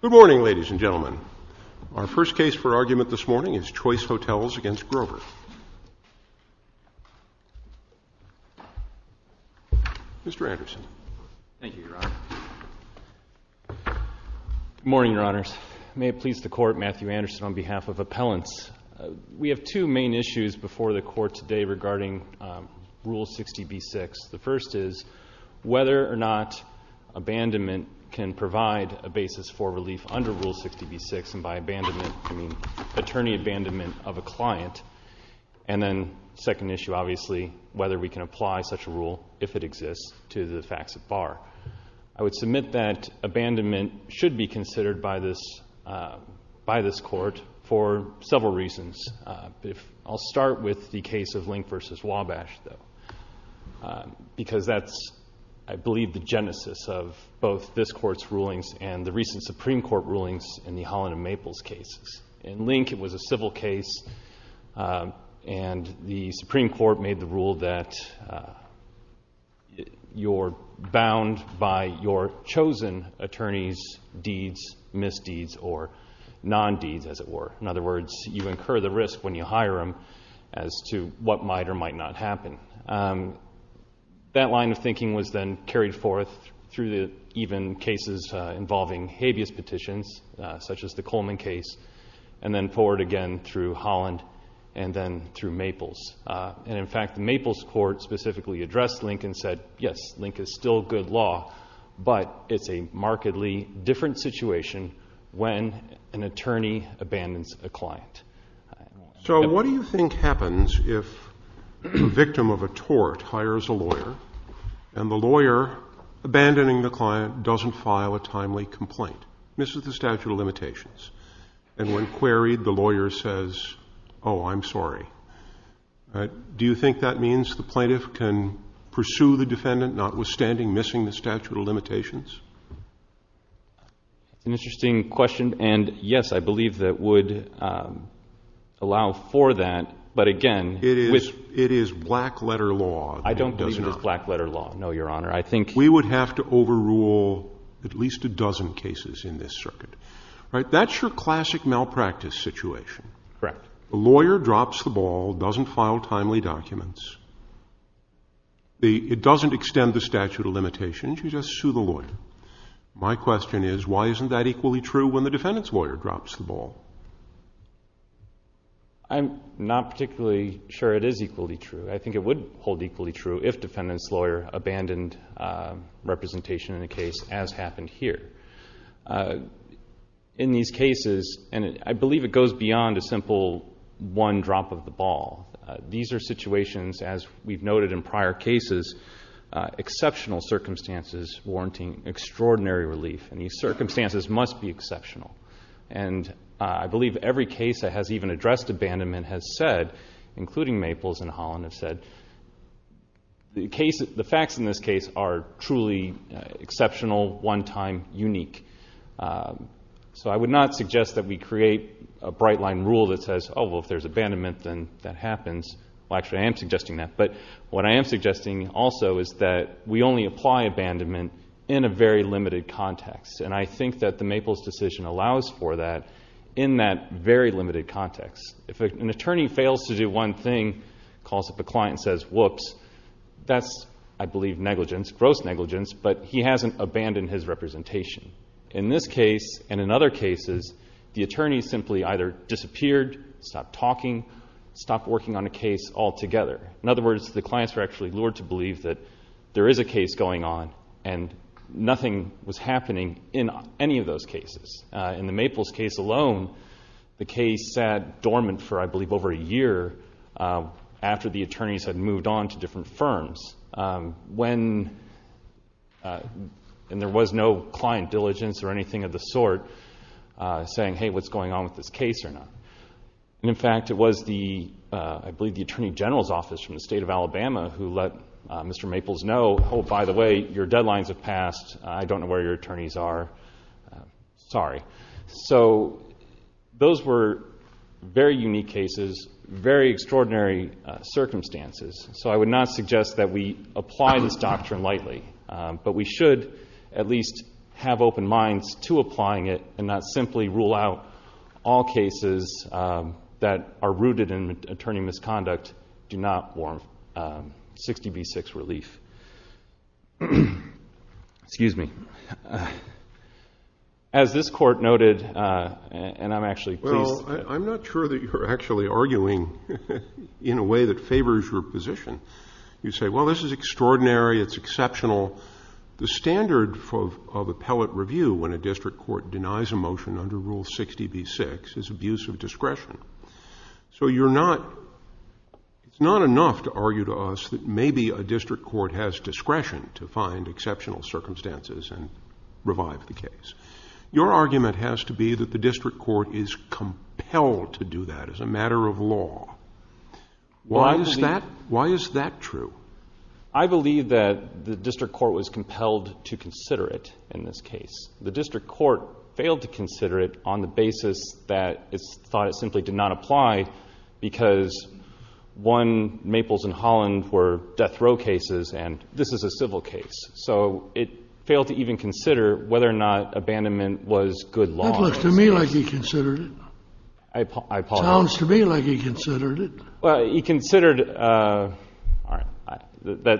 Good morning, ladies and gentlemen. Our first case for argument this morning is Choice Hotels v. Grover. Mr. Anderson. Thank you, Your Honor. Good morning, Your Honors. May it please the Court, Matthew Anderson on behalf of Appellants. We have two main issues before the Court today regarding Rule 60b-6. The first is whether or not abandonment can provide a basis for relief under Rule 60b-6, and by abandonment, I mean attorney abandonment of a client. And then the second issue, obviously, whether we can apply such a rule, if it exists, to the facts at bar. I would submit that abandonment should be considered by this Court for several reasons. I'll start with the case of Link v. Wabash, though, because that's, I believe, the genesis of both this Court's rulings and the recent Supreme Court rulings in the Holland and Maples cases. In Link, it was a civil case, and the Supreme Court made the rule that you're bound by your chosen attorney's deeds, misdeeds, or non-deeds, as it were. In other words, you incur the risk when you hire him as to what might or might not happen. That line of thinking was then carried forth through even cases involving habeas petitions, such as the Coleman case, and then forward again through Holland and then through Maples. And in fact, the Maples Court specifically addressed Link and said, yes, Link is still good law, but it's a markedly different situation when an attorney abandons a client. So what do you think happens if the victim of a tort hires a lawyer and the lawyer, abandoning the client, doesn't file a timely complaint, misses the statute of limitations, and when queried, the lawyer says, oh, I'm sorry? Do you think that means the plaintiff can pursue the defendant, notwithstanding missing the statute of limitations? That's an interesting question, and yes, I believe that would allow for that. But again, it is black-letter law. I don't believe it is black-letter law, no, Your Honor. We would have to overrule at least a dozen cases in this circuit. That's your classic malpractice situation. Correct. The lawyer drops the ball, doesn't file timely documents. It doesn't extend the statute of limitations. You just sue the lawyer. My question is, why isn't that equally true when the defendant's lawyer drops the ball? I'm not particularly sure it is equally true. I think it would hold equally true if defendant's lawyer abandoned representation in a case, as happened here. In these cases, and I believe it goes beyond a simple one drop of the ball. These are situations, as we've noted in prior cases, exceptional circumstances warranting extraordinary relief, and these circumstances must be exceptional. And I believe every case that has even addressed abandonment has said, including Maples and Holland, the facts in this case are truly exceptional, one-time, unique. So I would not suggest that we create a bright-line rule that says, oh, well, if there's abandonment, then that happens. Well, actually, I am suggesting that. But what I am suggesting also is that we only apply abandonment in a very limited context, and I think that the Maples decision allows for that in that very limited context. If an attorney fails to do one thing, calls up a client and says, whoops, that's, I believe, negligence, gross negligence, but he hasn't abandoned his representation. In this case and in other cases, the attorney simply either disappeared, stopped talking, stopped working on a case altogether. In other words, the clients were actually lured to believe that there is a case going on, and nothing was happening in any of those cases. In the Maples case alone, the case sat dormant for, I believe, over a year after the attorneys had moved on to different firms, when there was no client diligence or anything of the sort saying, hey, what's going on with this case or not? And, in fact, it was the, I believe, the Attorney General's Office from the State of Alabama who let Mr. Maples know, oh, by the way, your deadlines have passed. I don't know where your attorneys are. Sorry. So those were very unique cases, very extraordinary circumstances. So I would not suggest that we apply this doctrine lightly, but we should at least have open minds to applying it and not simply rule out all cases that are rooted in attorney misconduct. But do not warrant 60B6 relief. Excuse me. As this Court noted, and I'm actually pleased. Well, I'm not sure that you're actually arguing in a way that favors your position. You say, well, this is extraordinary, it's exceptional. The standard of appellate review when a district court denies a motion under Rule 60B6 is abuse of discretion. So you're not, it's not enough to argue to us that maybe a district court has discretion to find exceptional circumstances and revive the case. Your argument has to be that the district court is compelled to do that as a matter of law. Why is that true? I believe that the district court was compelled to consider it in this case. The district court failed to consider it on the basis that it's thought it simply did not apply because, one, Maples and Holland were death row cases and this is a civil case. So it failed to even consider whether or not abandonment was good law. That looks to me like he considered it. I apologize. Sounds to me like he considered it. Well, he considered, all right,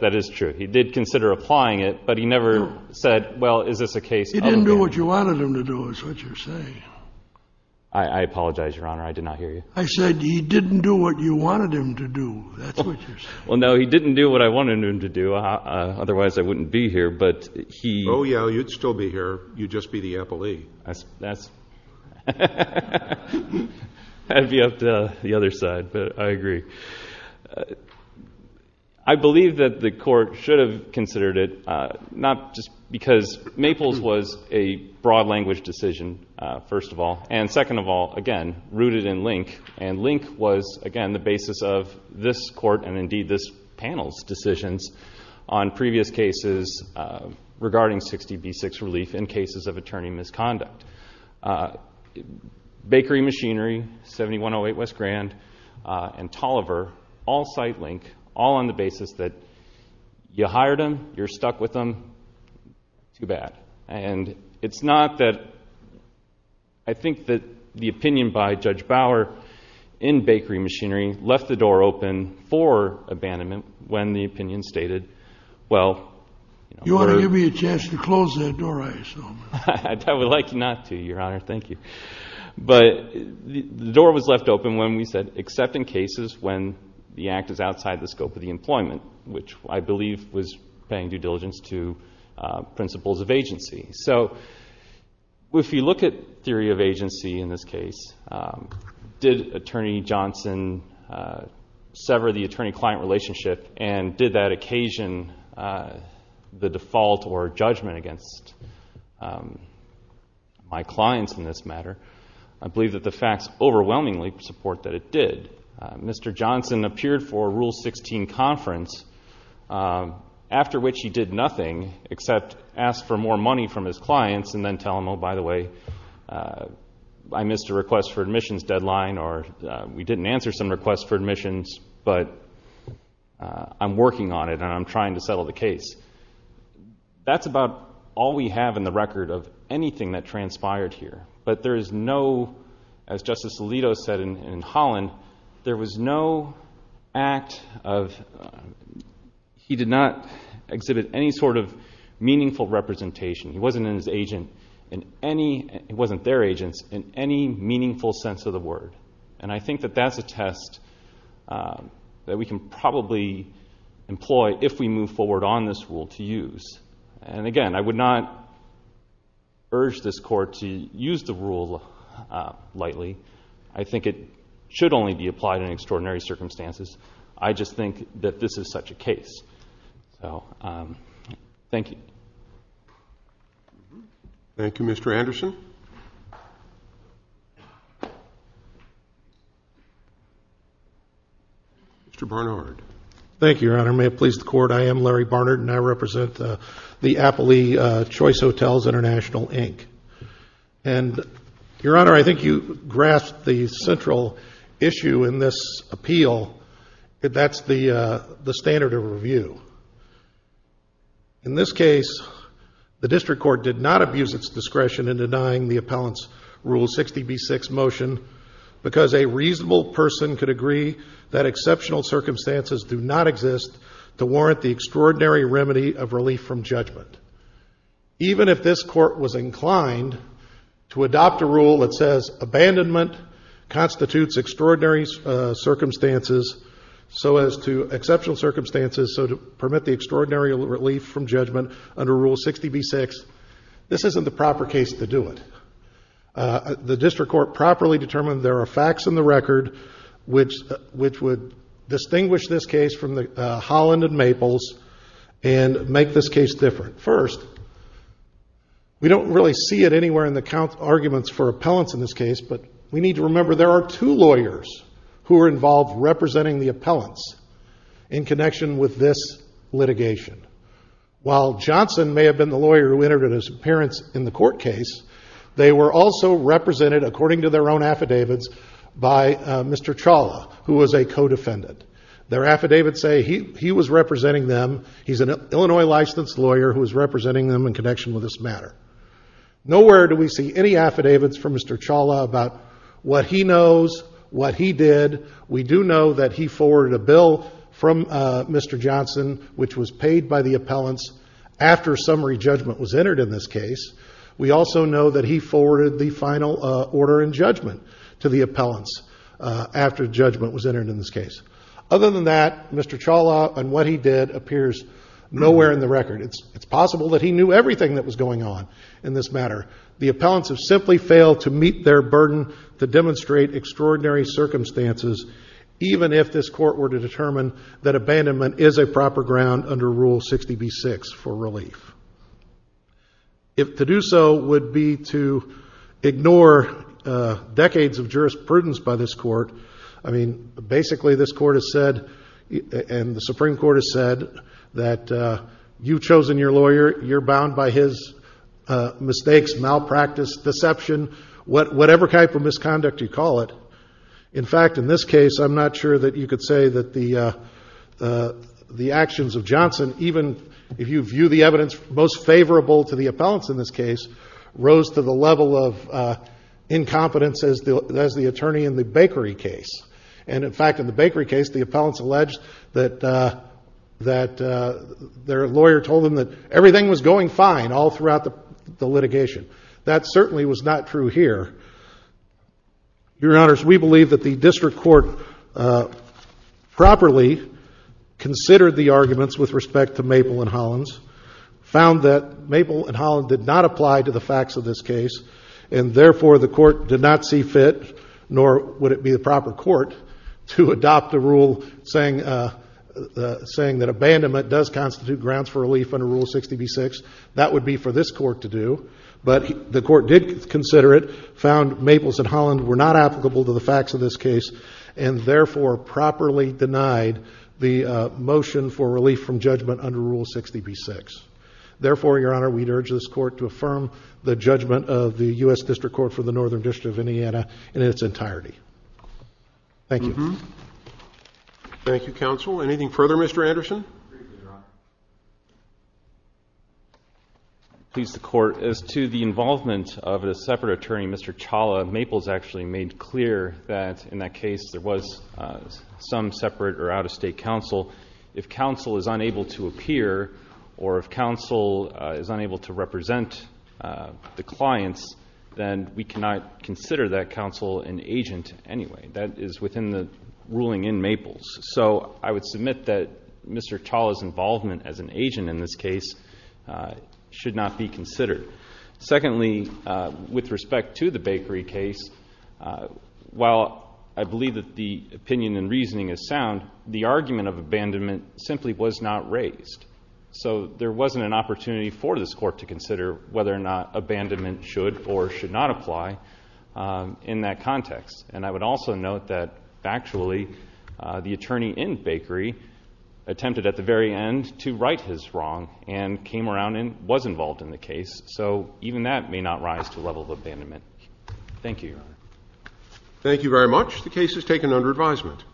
that is true. He did consider applying it, but he never said, well, is this a case of abuse of discretion? He didn't do what you wanted him to do is what you're saying. I apologize, Your Honor. I did not hear you. I said he didn't do what you wanted him to do. That's what you're saying. Well, no, he didn't do what I wanted him to do. Otherwise, I wouldn't be here. Oh, yeah, you'd still be here. You'd just be the appellee. That's, that's, that'd be up to the other side, but I agree. I believe that the court should have considered it, not just because Maples was a broad language decision, first of all, and second of all, again, rooted in Link. And Link was, again, the basis of this court and, indeed, this panel's decisions on previous cases regarding 60B6 relief in cases of attorney misconduct. Bakery Machinery, 7108 West Grand, and Tolliver, all cite Link, all on the basis that you hired him, you're stuck with him, too bad. And it's not that I think that the opinion by Judge Bauer in Bakery Machinery left the door open for abandonment when the opinion stated, well, you know. You ought to give me a chance to close that door, I assume. I would like not to, Your Honor, thank you. But the door was left open when we said, except in cases when the act is outside the scope of the employment, which I believe was paying due diligence to principles of agency. So if you look at theory of agency in this case, did Attorney Johnson sever the attorney-client relationship and did that occasion the default or judgment against my clients in this matter? I believe that the facts overwhelmingly support that it did. Mr. Johnson appeared for a Rule 16 conference, after which he did nothing except ask for more money from his clients and then tell them, oh, by the way, I missed a request for admissions deadline or we didn't answer some requests for admissions, but I'm working on it and I'm trying to settle the case. That's about all we have in the record of anything that transpired here. But there is no, as Justice Alito said in Holland, there was no act of, he did not exhibit any sort of meaningful representation. He wasn't in his agent in any, it wasn't their agents, in any meaningful sense of the word. And I think that that's a test that we can probably employ if we move forward on this rule to use. And, again, I would not urge this Court to use the rule lightly. I think it should only be applied in extraordinary circumstances. I just think that this is such a case. So thank you. Thank you, Mr. Anderson. Mr. Barnard. Thank you, Your Honor. May it please the Court, I am Larry Barnard, and I represent the Appley Choice Hotels International, Inc. And, Your Honor, I think you grasped the central issue in this appeal, that that's the standard of review. In this case, the District Court did not abuse its discretion in denying the appellant's Rule 60B6 motion because a reasonable person could agree that exceptional circumstances do not exist to warrant the extraordinary remedy of relief from judgment. Even if this Court was inclined to adopt a rule that says abandonment constitutes extraordinary circumstances so as to exceptional circumstances so to permit the extraordinary relief from judgment under Rule 60B6, this isn't the proper case to do it. The District Court properly determined there are facts in the record which would distinguish this case from the Holland and Maples and make this case different. First, we don't really see it anywhere in the arguments for appellants in this case, but we need to remember there are two lawyers who are involved representing the appellants in connection with this litigation. While Johnson may have been the lawyer who entered his appearance in the court case, they were also represented, according to their own affidavits, by Mr. Chawla, who was a co-defendant. Their affidavits say he was representing them. He's an Illinois-licensed lawyer who was representing them in connection with this matter. Nowhere do we see any affidavits from Mr. Chawla about what he knows, what he did. We do know that he forwarded a bill from Mr. Johnson which was paid by the appellants after summary judgment was entered in this case. We also know that he forwarded the final order in judgment to the appellants after judgment was entered in this case. Other than that, Mr. Chawla and what he did appears nowhere in the record. It's possible that he knew everything that was going on in this matter. The appellants have simply failed to meet their burden to demonstrate extraordinary circumstances, even if this court were to determine that abandonment is a proper ground under Rule 60b-6 for relief. If to do so would be to ignore decades of jurisprudence by this court, I mean, basically this court has said and the Supreme Court has said that you've chosen your lawyer, you're bound by his mistakes, malpractice, deception, whatever type of misconduct you call it. In fact, in this case, I'm not sure that you could say that the actions of Johnson, even if you view the evidence most favorable to the appellants in this case, rose to the level of incompetence as the attorney in the Bakery case. And, in fact, in the Bakery case, the appellants alleged that their lawyer told them that everything was going fine all throughout the litigation. That certainly was not true here. Your Honors, we believe that the district court properly considered the arguments with respect to Maple and Hollins, found that Maple and Hollins did not apply to the facts of this case, and therefore the court did not see fit, nor would it be the proper court, to adopt a rule saying that abandonment does constitute grounds for relief under Rule 60b-6. That would be for this court to do. But the court did consider it, found Maple and Hollins were not applicable to the facts of this case, and therefore properly denied the motion for relief from judgment under Rule 60b-6. Therefore, Your Honor, we'd urge this court to affirm the judgment of the U.S. District Court for the Northern District of Indiana in its entirety. Thank you. Thank you, Counsel. Anything further, Mr. Anderson? Please, the Court. As to the involvement of a separate attorney, Mr. Chawla, Maples actually made clear that in that case there was some separate or out-of-state counsel. If counsel is unable to appear or if counsel is unable to represent the clients, then we cannot consider that counsel an agent anyway. That is within the ruling in Maples. So I would submit that Mr. Chawla's involvement as an agent in this case should not be considered. Secondly, with respect to the Bakery case, while I believe that the opinion and reasoning is sound, the argument of abandonment simply was not raised. So there wasn't an opportunity for this court to consider whether or not abandonment should or should not apply in that context. And I would also note that factually the attorney in Bakery attempted at the very end to right his wrong and came around and was involved in the case. So even that may not rise to a level of abandonment. Thank you, Your Honor. Thank you very much. The case is taken under advisement.